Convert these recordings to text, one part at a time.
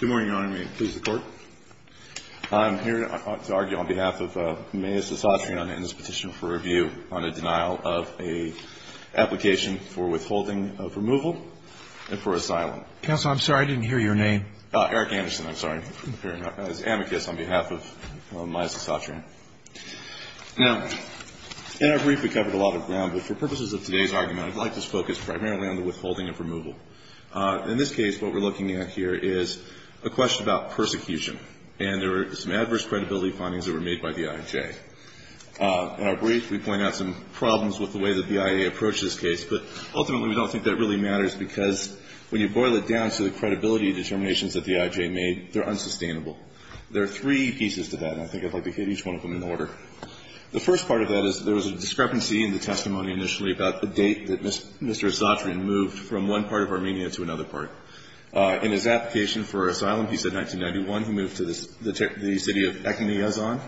Good morning, Your Honor. May it please the Court. I'm here to argue on behalf of Myas Asatryan in this petition for review on the denial of an application for withholding of removal and for asylum. Counsel, I'm sorry, I didn't hear your name. Eric Anderson, I'm sorry, as amicus on behalf of Myas Asatryan. Now, in our brief, we covered a lot of ground, but for purposes of today's argument, I'd like to focus primarily on the withholding of removal. In this case, what we're looking at here is a question about persecution, and there are some adverse credibility findings that were made by the I.J. In our brief, we point out some problems with the way that the I.A. approached this case, but ultimately, we don't think that really matters because when you boil it down to the credibility determinations that the I.J. made, they're unsustainable. There are three pieces to that, and I think I'd like to hit each one of them in order. The first part of that is there was a discrepancy in the testimony initially about the date that Mr. Asatryan moved from one part of Armenia to another part. In his application for asylum, he said 1991. He moved to the city of Ekimiazon.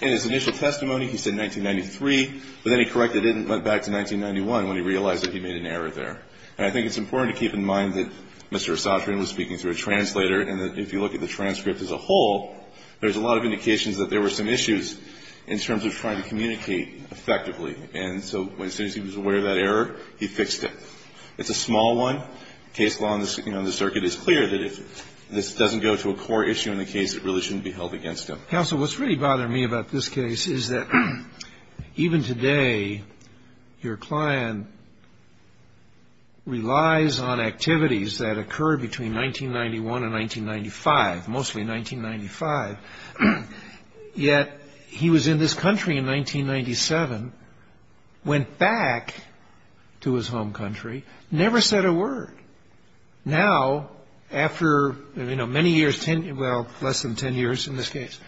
In his initial testimony, he said 1993, but then he corrected it and went back to 1991 when he realized that he made an error there. And I think it's important to keep in mind that Mr. Asatryan was speaking through a translator, and that if you look at the transcript as a whole, there's a lot of indications that there were some issues in terms of trying to communicate effectively. And so as soon as he was aware of that error, he fixed it. It's a small one. Case law on the circuit is clear that if this doesn't go to a core issue in the case, it really shouldn't be held against him. Counsel, what's really bothering me about this case is that even today, your client relies on activities that occurred between 1991 and 1995, mostly 1995. Yet he was in this country in 1997, went back to his home country, never said a word. Now, after, you know, many years, well, less than 10 years in this case,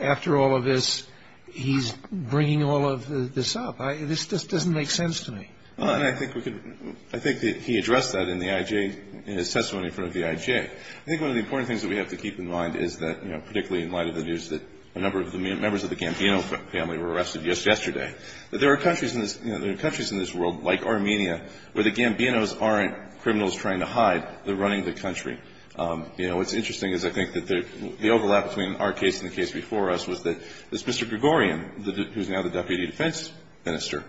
after all of this, he's bringing all of this up. This just doesn't make sense to me. Well, and I think we could ‑‑ I think that he addressed that in the IJ, in his testimony in front of the IJ. I think one of the important things that we have to keep in mind is that, you know, particularly in light of the news that a number of the members of the Gambino family were arrested just yesterday, that there are countries in this ‑‑ you know, there are countries in this world, like Armenia, where the Gambinos aren't criminals trying to hide, they're running the country. You know, what's interesting is I think that the overlap between our case and the case before us was that this Mr. Gregorian, who's now the Deputy Defense Minister,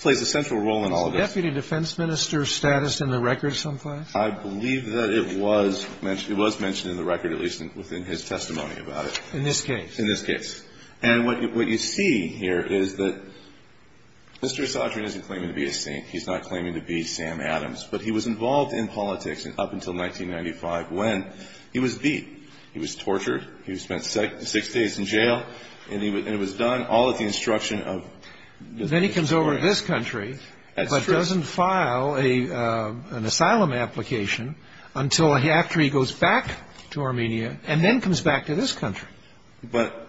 plays a central role in all of this. Was the Deputy Defense Minister's status in the record someplace? I believe that it was mentioned in the record, at least within his testimony about it. In this case? In this case. In this case. And what you see here is that Mr. Sotrin isn't claiming to be a saint. He's not claiming to be Sam Adams. But he was involved in politics up until 1995, when he was beat. He was tortured. He spent six days in jail. And it was done all at the instruction of Mr. Sotrin. Then he comes over to this country. That's true. But doesn't file an asylum application until after he goes back to Armenia, and then comes back to this country. But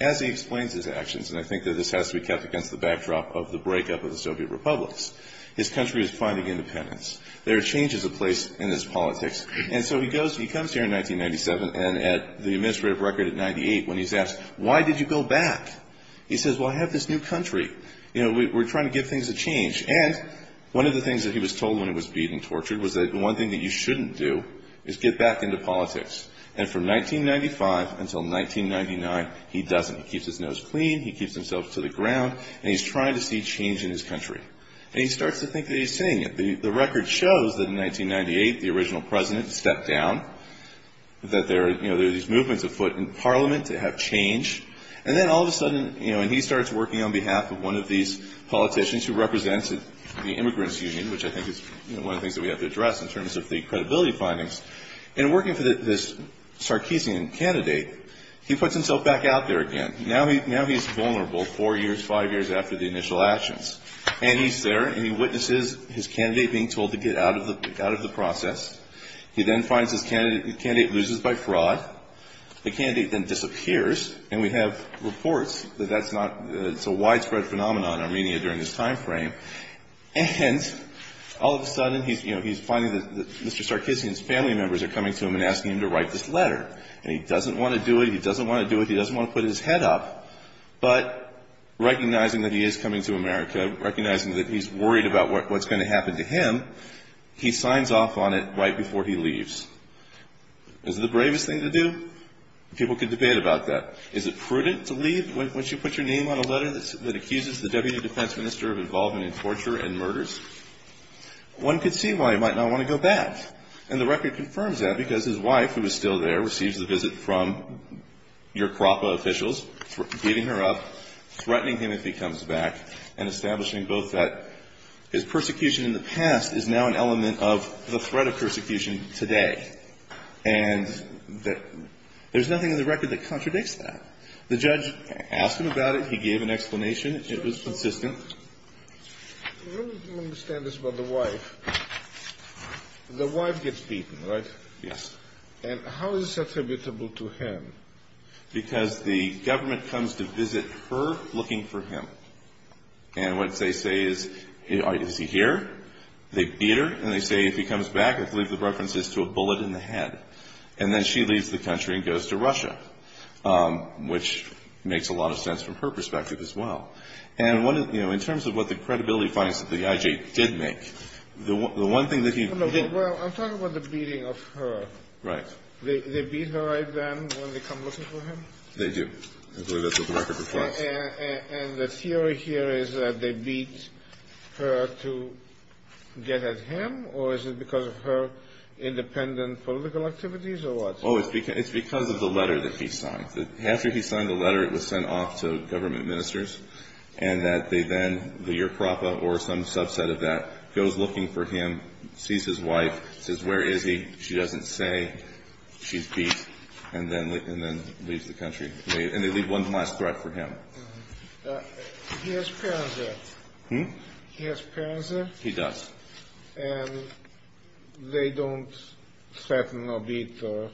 as he explains his actions, and I think that this has to be kept against the backdrop of the breakup of the Soviet republics, his country is finding independence. There are changes in place in this politics. And so he goes, he comes here in 1997, and at the administrative record at 98, when he's asked, why did you go back? He says, well, I have this new country. You know, we're trying to give things a change. And one of the things that he was told when he was beat and tortured was that the one thing that you shouldn't do is get back into politics. And from 1995 until 1999, he doesn't. He keeps his nose clean. He keeps himself to the ground. And he's trying to see change in his country. And he starts to think that he's seeing it. The record shows that in 1998, the original president stepped down, that there are, you know, there are these movements afoot in parliament to have change. And then all of a sudden, you know, and he starts working on behalf of one of these politicians who represents the immigrants union, which I think is one of the things that we have to address in terms of the credibility findings. And working for this Sarkisian candidate, he puts himself back out there again. Now he's vulnerable four years, five years after the initial actions. And he's there, and he witnesses his candidate being told to get out of the process. He then finds his candidate loses by fraud. The candidate then disappears, and we have reports that that's not the widespread phenomenon in Armenia during this timeframe. And all of a sudden, he's, you know, he's finding that Mr. Sarkisian's family members are coming to him and asking him to write this letter. And he doesn't want to do it. He doesn't want to do it. He doesn't want to put his head up. But recognizing that he is coming to America, recognizing that he's worried about what's going to happen to him, he signs off on it right before he leaves. Is it the bravest thing to do? People can debate about that. Is it prudent to leave once you put your name on a letter that accuses the deputy defense minister of involvement in torture and murders? One could see why he might not want to go back. And the record confirms that, because his wife, who is still there, receives the visit from your KRAPA officials, beating her up, threatening him if he comes back, and establishing both that his persecution in the past is now an element of the threat of persecution today. And there's nothing in the record that contradicts that. The judge asked him about it. He gave an explanation. It was consistent. I don't understand this about the wife. The wife gets beaten, right? Yes. And how is this attributable to him? Because the government comes to visit her looking for him. And what they say is, is he here? They beat her. And they say, if he comes back, I believe the reference is to a bullet in the head. And then she leaves the country and goes to Russia, which makes a lot of sense from her perspective as well. And, you know, in terms of what the credibility finds that the I.J. did make, the one thing that he didn't do Well, I'm talking about the beating of her. Right. They beat her then when they come looking for him? They do. I believe that's what the record reports. And the theory here is that they beat her to get at him? Or is it because of her independent political activities or what? Oh, it's because of the letter that he signed. After he signed the letter, it was sent off to government ministers. And that they then, the I.J. or some subset of that, goes looking for him, sees his wife, says, where is he? She doesn't say. She's beat. And then leaves the country. And they leave one last threat for him. He has parents there? Hmm? He has parents there? He does. And they don't threaten or beat or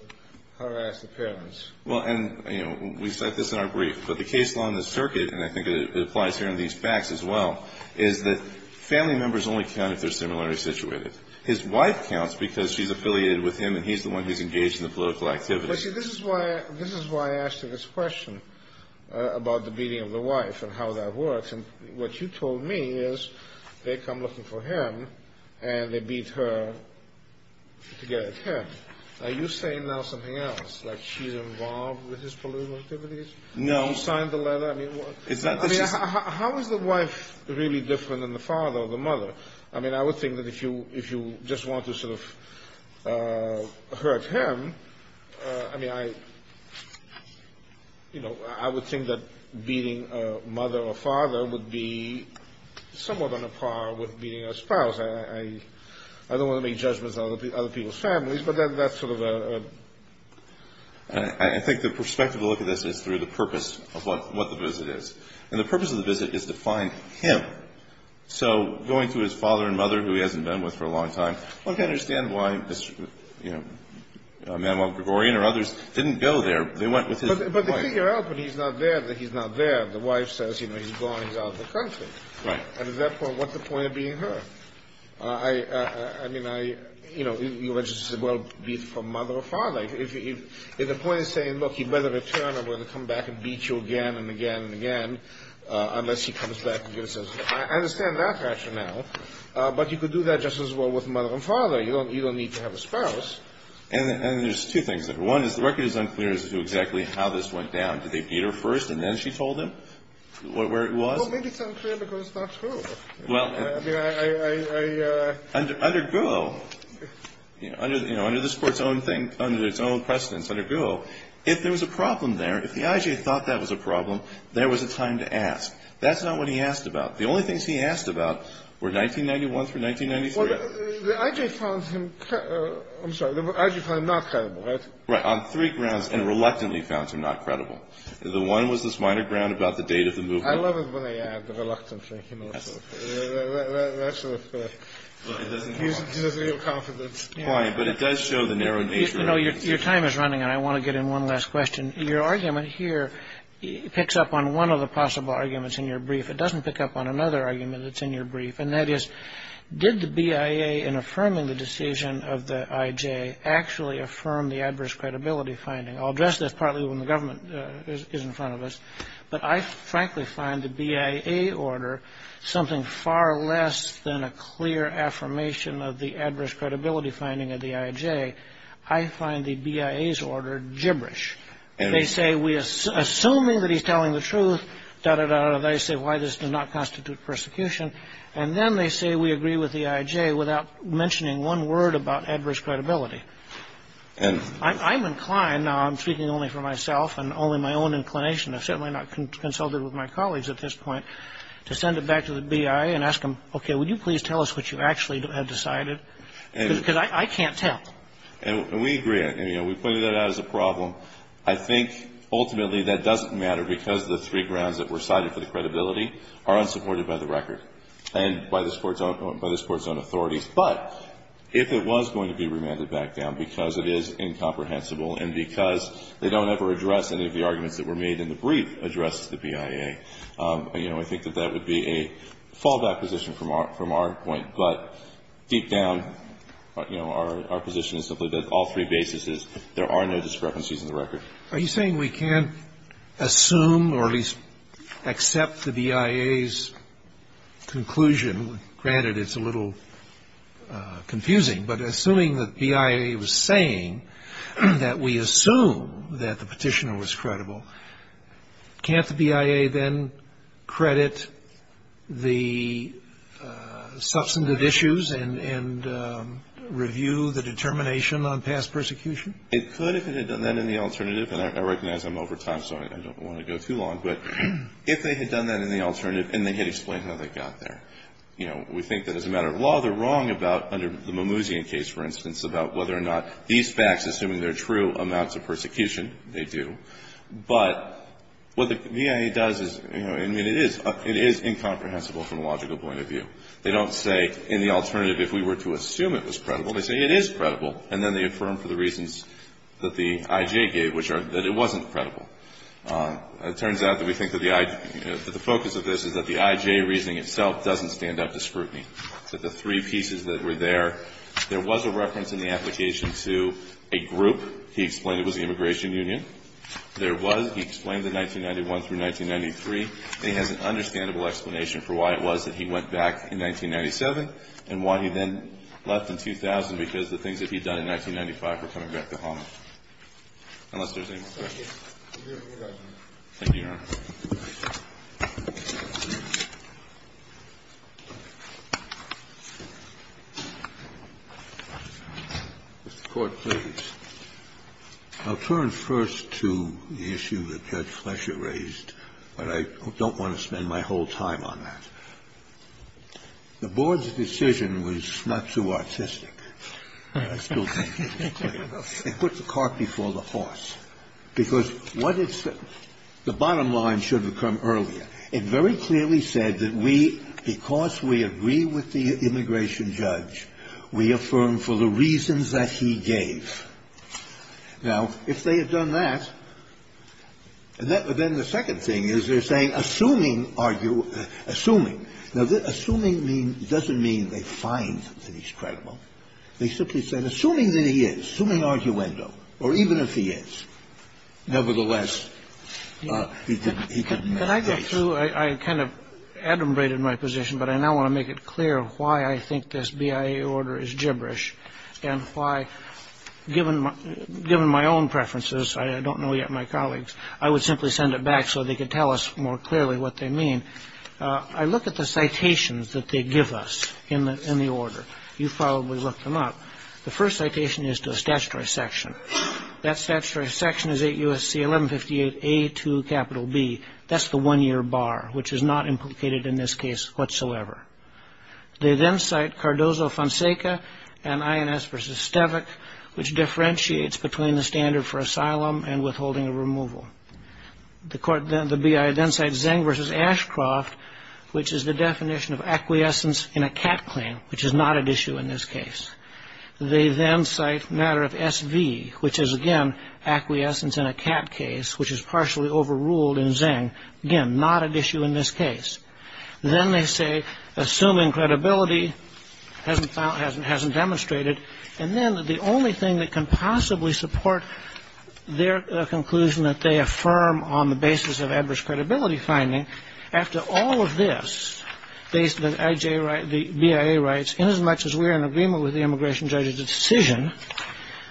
harass the parents? Well, and, you know, we cite this in our brief. But the case law in this circuit, and I think it applies here in these facts as well, is that family members only count if they're similarly situated. His wife counts because she's affiliated with him and he's the one who's engaged in the political activities. But, see, this is why I asked you this question about the beating of the wife and how that works. And what you told me is they come looking for him and they beat her to get at him. Are you saying now something else? Like she's involved with his political activities? No. You signed the letter? I mean, how is the wife really different than the father or the mother? I mean, I would think that if you just want to sort of hurt him, I mean, I, you know, I would think that beating a mother or father would be somewhat on a par with beating a spouse. I don't want to make judgments of other people's families, but that's sort of a ‑‑ I think the perspective to look at this is through the purpose of what the visit is. And the purpose of the visit is to find him. Right. So going through his father and mother, who he hasn't been with for a long time, one can understand why, you know, Manuel Gregorian or others didn't go there. They went with his wife. But they figure out when he's not there that he's not there. The wife says, you know, he's gone, he's out of the country. Right. And at that point, what's the point of beating her? I mean, I, you know, you were just as well beaten from mother or father. If the point is saying, look, he'd rather return or whether come back and beat you again and again and again unless he comes back and gives us ‑‑ I understand that rationale. But you could do that just as well with mother and father. You don't need to have a spouse. And there's two things there. One is the record is unclear as to exactly how this went down. Did they beat her first and then she told him where it was? Well, maybe it's unclear because it's not true. Well, I mean, I ‑‑ Under GUO, you know, under this Court's own thing, under its own precedence, under GUO, if there was a problem there, if the IG thought that was a problem, there was a time to ask. That's not what he asked about. The only things he asked about were 1991 through 1993. Well, the IG found him ‑‑ I'm sorry, the IG found him not credible, right? Right. On three grounds. And reluctantly found him not credible. The one was this minor ground about the date of the movement. I love it when they add the reluctantly. That sort of gives us real confidence. Right. But it does show the narrow nature of the situation. You know, your time is running, and I want to get in one last question. Your argument here picks up on one of the possible arguments in your brief. It doesn't pick up on another argument that's in your brief, and that is did the BIA, in affirming the decision of the IJ, actually affirm the adverse credibility finding? I'll address this partly when the government is in front of us, but I frankly find the BIA order something far less than a clear affirmation of the adverse credibility finding of the IJ. I find the BIA's order gibberish. They say, assuming that he's telling the truth, da, da, da, da, they say why this does not constitute persecution, and then they say we agree with the IJ without mentioning one word about adverse credibility. I'm inclined, now I'm speaking only for myself and only my own inclination, I've certainly not consulted with my colleagues at this point, to send it back to the BIA and ask them, okay, would you please tell us what you actually have decided? Because I can't tell. And we agree on it. We pointed that out as a problem. I think ultimately that doesn't matter because the three grounds that were cited for the credibility are unsupported by the record and by this Court's own authorities. But if it was going to be remanded back down because it is incomprehensible and because they don't ever address any of the arguments that were made in the brief addresses the BIA, I think that that would be a fallback position from our point. But deep down, you know, our position is simply that all three bases, there are no discrepancies in the record. Are you saying we can't assume or at least accept the BIA's conclusion? Granted, it's a little confusing. But assuming that the BIA was saying that we assume that the petitioner was credible, can't the BIA then credit the substantive issues and review the determination on past persecution? It could if it had done that in the alternative. And I recognize I'm over time, so I don't want to go too long. But if they had done that in the alternative and they had explained how they got there. You know, we think that as a matter of law, they're wrong about under the Mimouzian case, for instance, about whether or not these facts, assuming they're true, amounts of persecution. They do. But what the BIA does is, you know, I mean, it is incomprehensible from a logical point of view. They don't say in the alternative if we were to assume it was credible. They say it is credible. And then they affirm for the reasons that the IJ gave, which are that it wasn't credible. It turns out that we think that the focus of this is that the IJ reasoning itself doesn't stand up to scrutiny. So the three pieces that were there, there was a reference in the application to a group. He explained it was the immigration union. There was, he explained the 1991 through 1993. And he has an understandable explanation for why it was that he went back in 1997 and why he then left in 2000, because the things that he had done in 1995 were coming back to haunt him, unless there's any more questions. Thank you, Your Honor. Mr. Court, please. I'll turn first to the issue that Judge Flesher raised, but I don't want to spend my whole time on that. The board's decision was not too artistic. I still think it was clear enough. It puts the cart before the horse, because what it's the bottom line should have come earlier. It very clearly said that we, because we agree with the immigration judge, we affirm for the reasons that he gave. Now, if they had done that, then the second thing is they're saying, assuming, assuming. Now, assuming doesn't mean they find that he's credible. They simply said, assuming that he is, assuming arguendo, or even if he is, nevertheless, he can make a case. Can I go through? I kind of adumbrated my position, but I now want to make it clear why I think this BIA order is gibberish and why, given my own preferences, I don't know yet my colleagues, I would simply send it back so they could tell us more clearly what they mean. I look at the citations that they give us in the order. You've probably looked them up. The first citation is to a statutory section. That statutory section is 8 U.S.C. 1158 A to capital B. That's the one-year bar, which is not implicated in this case whatsoever. They then cite Cardozo-Fonseca and INS v. Stevak, which differentiates between the standard for asylum and withholding of removal. The BIA then cites Zeng v. Ashcroft, which is the definition of acquiescence in a CAT claim, which is not at issue in this case. They then cite matter of SV, which is, again, acquiescence in a CAT case, which is partially overruled in Zeng, again, not at issue in this case. Then they say, assuming credibility, hasn't demonstrated. And then the only thing that can possibly support their conclusion that they affirm on the basis of adverse credibility finding, after all of this, based on the BIA rights, inasmuch as we are in agreement with the immigration judge's decision,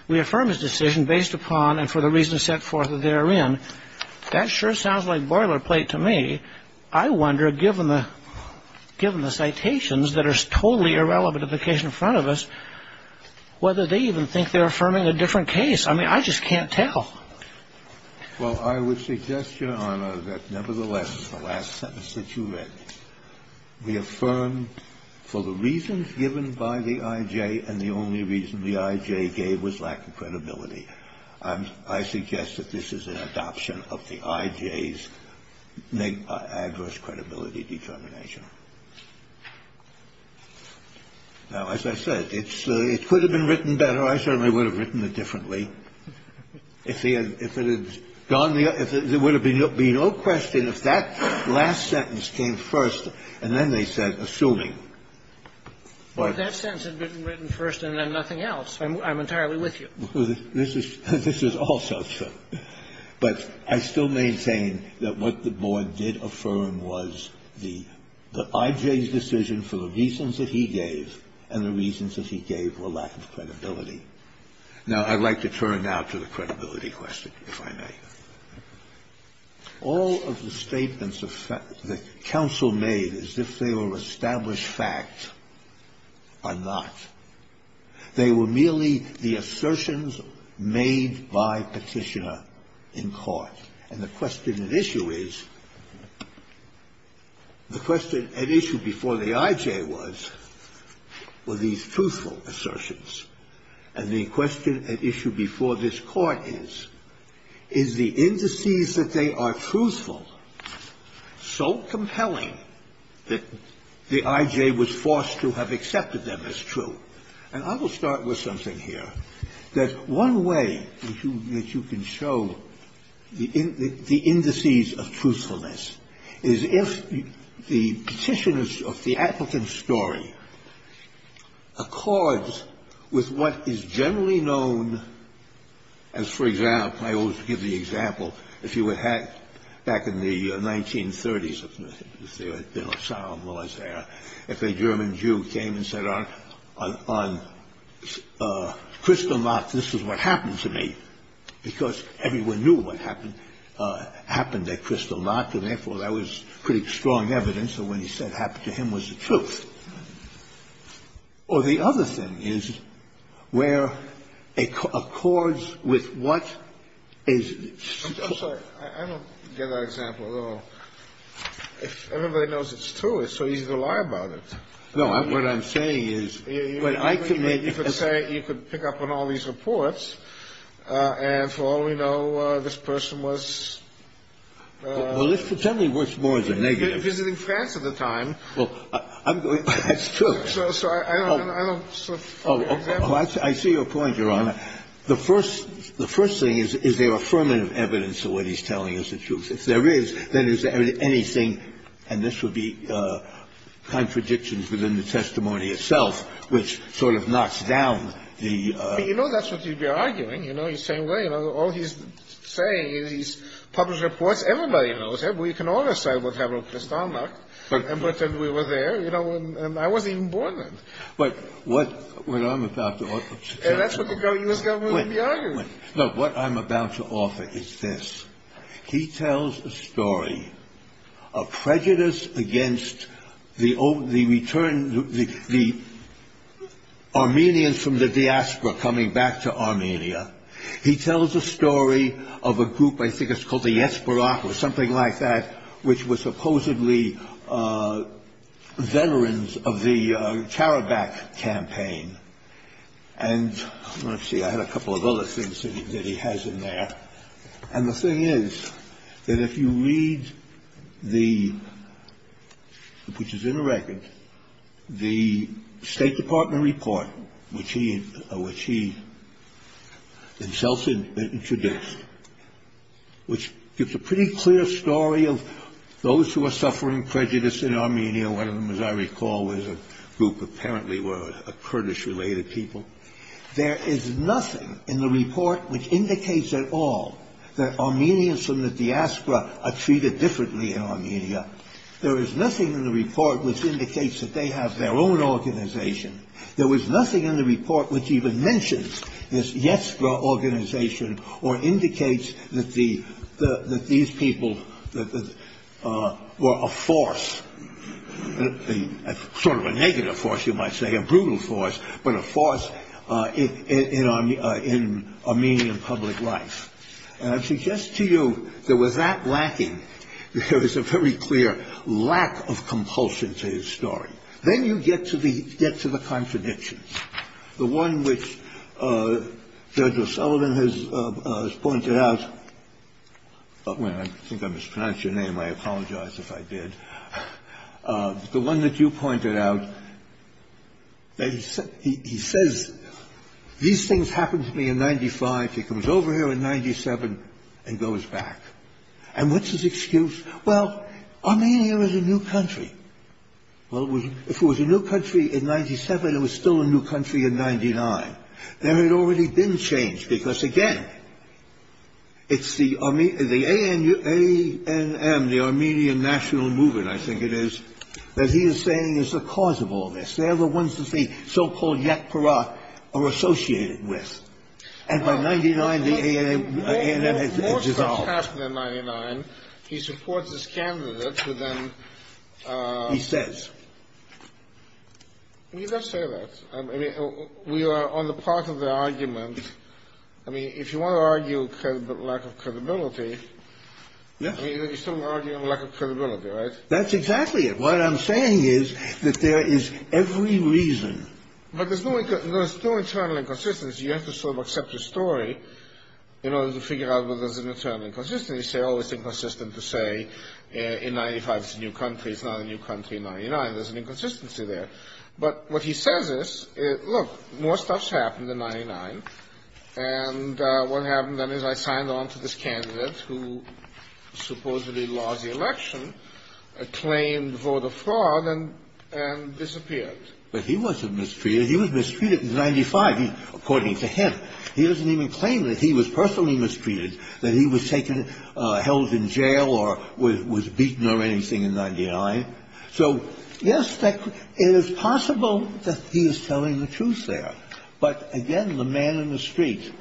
we affirm his decision based upon and for the reasons set forth therein. That sure sounds like boilerplate to me. I wonder, given the citations that are totally irrelevant to the case in front of us, whether they even think they're affirming a different case. I mean, I just can't tell. Well, I would suggest, Your Honor, that, nevertheless, the last sentence that you read, we affirm for the reasons given by the I.J. and the only reason the I.J. gave was lack of credibility. I suggest that this is an adoption of the I.J.'s adverse credibility determination. Now, as I said, it could have been written better. I certainly would have written it differently. If it had gone the other way, there would have been no question if that last sentence came first and then they said, assuming. But that sentence had been written first and then nothing else. I'm entirely with you. This is also true. But I still maintain that what the board did affirm was the I.J.'s decision for the reasons that he gave and the reasons that he gave were lack of credibility. Now, I'd like to turn now to the credibility question, if I may. All of the statements that counsel made as if they were established facts are not. They were merely the assertions made by Petitioner in court. And the question at issue is, the question at issue before the I.J. was, were these truthful assertions? And the question at issue before this Court is, is the indices that they are truthful so compelling that the I.J. was forced to have accepted them as true? And I will start with something here, that one way that you can show the indices of truthfulness is if the Petitioner's or the applicant's story accords with what is generally known as, for example, I always give the example, if you had back in the 1990s, of what happened on Crystal Lock, this is what happened to me, because everyone knew what happened at Crystal Lock, and therefore, that was pretty strong evidence that when he said it happened to him, it was the truth. Or the other thing is, where it accords with what is the truth. I mean, what I'm saying is when I commit as a judge... Kennedy. No, what I'm saying is when I commit... But you could say you could pick up on all these reports, and for all we know, this person was... Well, let's pretend he was more than negative. Visiting France at the time. Well, I'm going to... That's true. So I don't know... Oh, I see your point, Your Honor. The first thing is, is there affirmative evidence of what he's telling us the truth? If there is, then is there anything... And this would be contradictions within the testimony itself, which sort of knocks down the... But you know that's what you'd be arguing. You know, you're saying, well, you know, all he's saying is he's published reports. Everybody knows him. We can all decide what happened with Stalmach. And we were there, you know, and I wasn't even born then. But what I'm about to offer... And that's what the U.S. government would be arguing. Look, what I'm about to offer is this. He tells a story of prejudice against the Armenians from the diaspora coming back to Armenia. He tells a story of a group, I think it's called the Yatsberak, or something like that, which was supposedly veterans of the Karabakh campaign. And let's see, I had a couple of other things that he has in there. And the thing is that if you read the, which is in the record, the State Department report, which he himself introduced, which gives a pretty clear story of those who are suffering prejudice in Armenia. One of them, as I recall, was a group apparently were Kurdish-related people. There is nothing in the report which indicates at all that Armenians from the diaspora are treated differently in Armenia. There is nothing in the report which indicates that they have their own organization. There was nothing in the report which even mentions this Yatsberak organization or indicates that these people were a force, sort of a negative force, you might say, a brutal force, but a force in Armenian public life. And I suggest to you that with that lacking, there is a very clear lack of compulsion to his story. Then you get to the contradictions, the one which Judge O'Sullivan has pointed out. I think I mispronounced your name. I apologize if I did. The one that you pointed out, he says, these things happened to me in 95. He comes over here in 97 and goes back. And what's his excuse? Well, Armenia is a new country. Well, if it was a new country in 97, it was still a new country in 99. There had already been change because, again, it's the ANM, the Armenian National Movement, I think it is, that he is saying is the cause of all this. They are the ones that the so-called Yatsberak are associated with. And by 99, the ANM has dissolved. He supports his candidate. He says. He does say that. I mean, we are on the part of the argument. I mean, if you want to argue lack of credibility, you're still arguing lack of credibility, right? That's exactly it. What I'm saying is that there is every reason. But there's no internal inconsistency. You have to sort of accept the story in order to figure out whether there's an internal inconsistency. You say, oh, it's inconsistent to say in 95 it's a new country. It's not a new country in 99. There's an inconsistency there. But what he says is, look, more stuff's happened in 99. And what happened then is I signed on to this candidate who supposedly lost the election, claimed vote of fraud, and disappeared. But he wasn't mistreated. He was mistreated in 95. According to him. He doesn't even claim that he was personally mistreated, that he was taken held in jail or was beaten or anything in 99. So, yes, it is possible that he is telling the truth there. But, again, the man in the street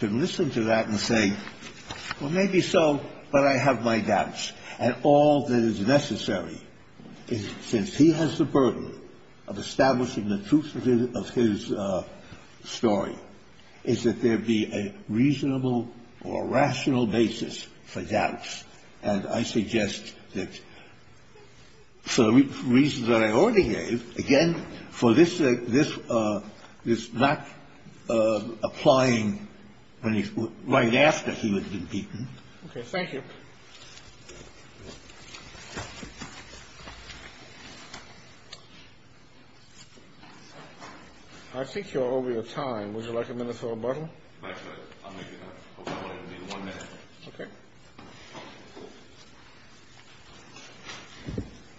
can listen to that and say, well, maybe so, but I have my doubts. And all that is necessary, since he has the burden of establishing the truth of his story, is that there be a reasonable or rational basis for doubts. And I suggest that for the reasons that I already gave, again, for this not applying right after he would have been beaten. Okay. Thank you. I think you're over your time. Would you like a minute for rebuttal? I'll make it up. I want it to be one minute. Okay.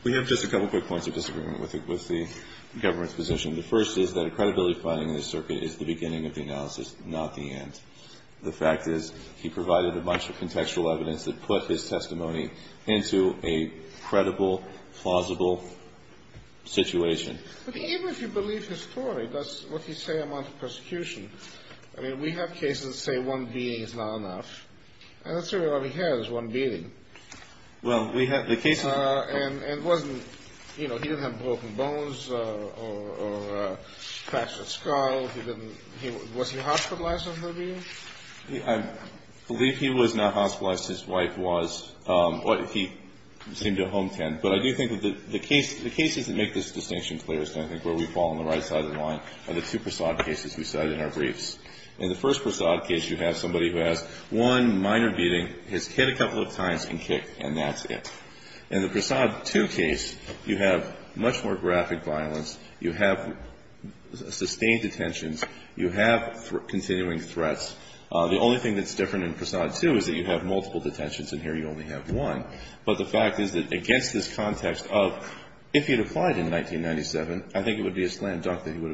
We have just a couple quick points of disagreement with the government's position. The first is that a credibility finding in the circuit is the beginning of the analysis, not the end. The fact is he provided a bunch of contextual evidence that put his testimony into a credible, plausible situation. Even if you believe his story, that's what he's saying about the persecution. I mean, we have cases that say one beating is not enough. And that's really all he has, is one beating. Well, we have the case of the... And it wasn't, you know, he didn't have broken bones or fractured skull. Was he hospitalized on the beating? I believe he was not hospitalized. His wife was. He seemed to have a home tent. But I do think that the cases that make this distinction clearest, I think, where we fall on the right side of the line, are the two Prasad cases we cited in our briefs. In the first Prasad case, you have somebody who has one minor beating, his kid a couple of times, and kicked, and that's it. In the Prasad 2 case, you have much more graphic violence. You have sustained detentions. You have continuing threats. The only thing that's different in Prasad 2 is that you have multiple detentions, and here you only have one. But the fact is that against this context of if he had applied in 1997, I think it would be a slam dunk that he would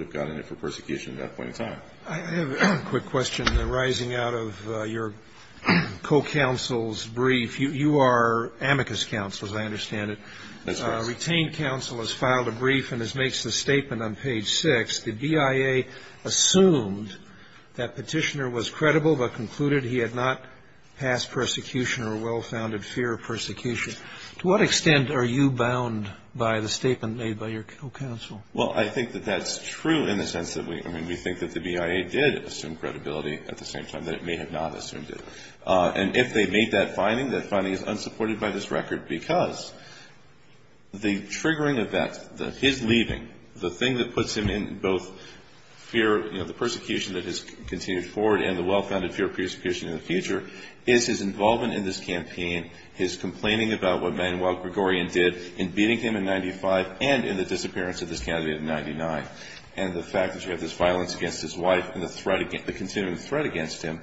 have gotten it for persecution at that point in time. I have a quick question. In the rising out of your co-counsel's brief, you are amicus counsel, as I understand it. That's right. Retained counsel has filed a brief, and as makes the statement on page 6, the BIA assumed that Petitioner was credible but concluded he had not passed persecution or well-founded fear of persecution. To what extent are you bound by the statement made by your co-counsel? Well, I think that that's true in the sense that we think that the BIA did assume credibility at the same time that it may have not assumed it. And if they made that finding, that finding is unsupported by this record because the triggering of that, his leaving, the thing that puts him in both fear of the persecution that has continued forward and the well-founded fear of persecution in the future is his involvement in this campaign, his complaining about what Manuel Gregorian did in beating him in 95 and in the disappearance of this candidate in 99. And the fact that you have this violence against his wife and the threat against him,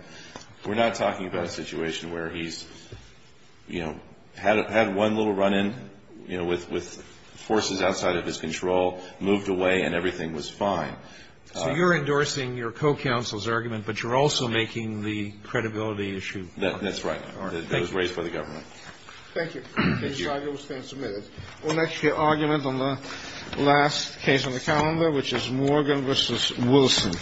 we're not talking about a situation where he's, you know, had one little run-in, you know, with forces outside of his control, moved away, and everything was fine. So you're endorsing your co-counsel's argument, but you're also making the credibility issue. That's right. That was raised by the government. Thank you. Thank you. This argument was then submitted. Our next argument on the last case on the calendar, which is Morgan v. Wilson.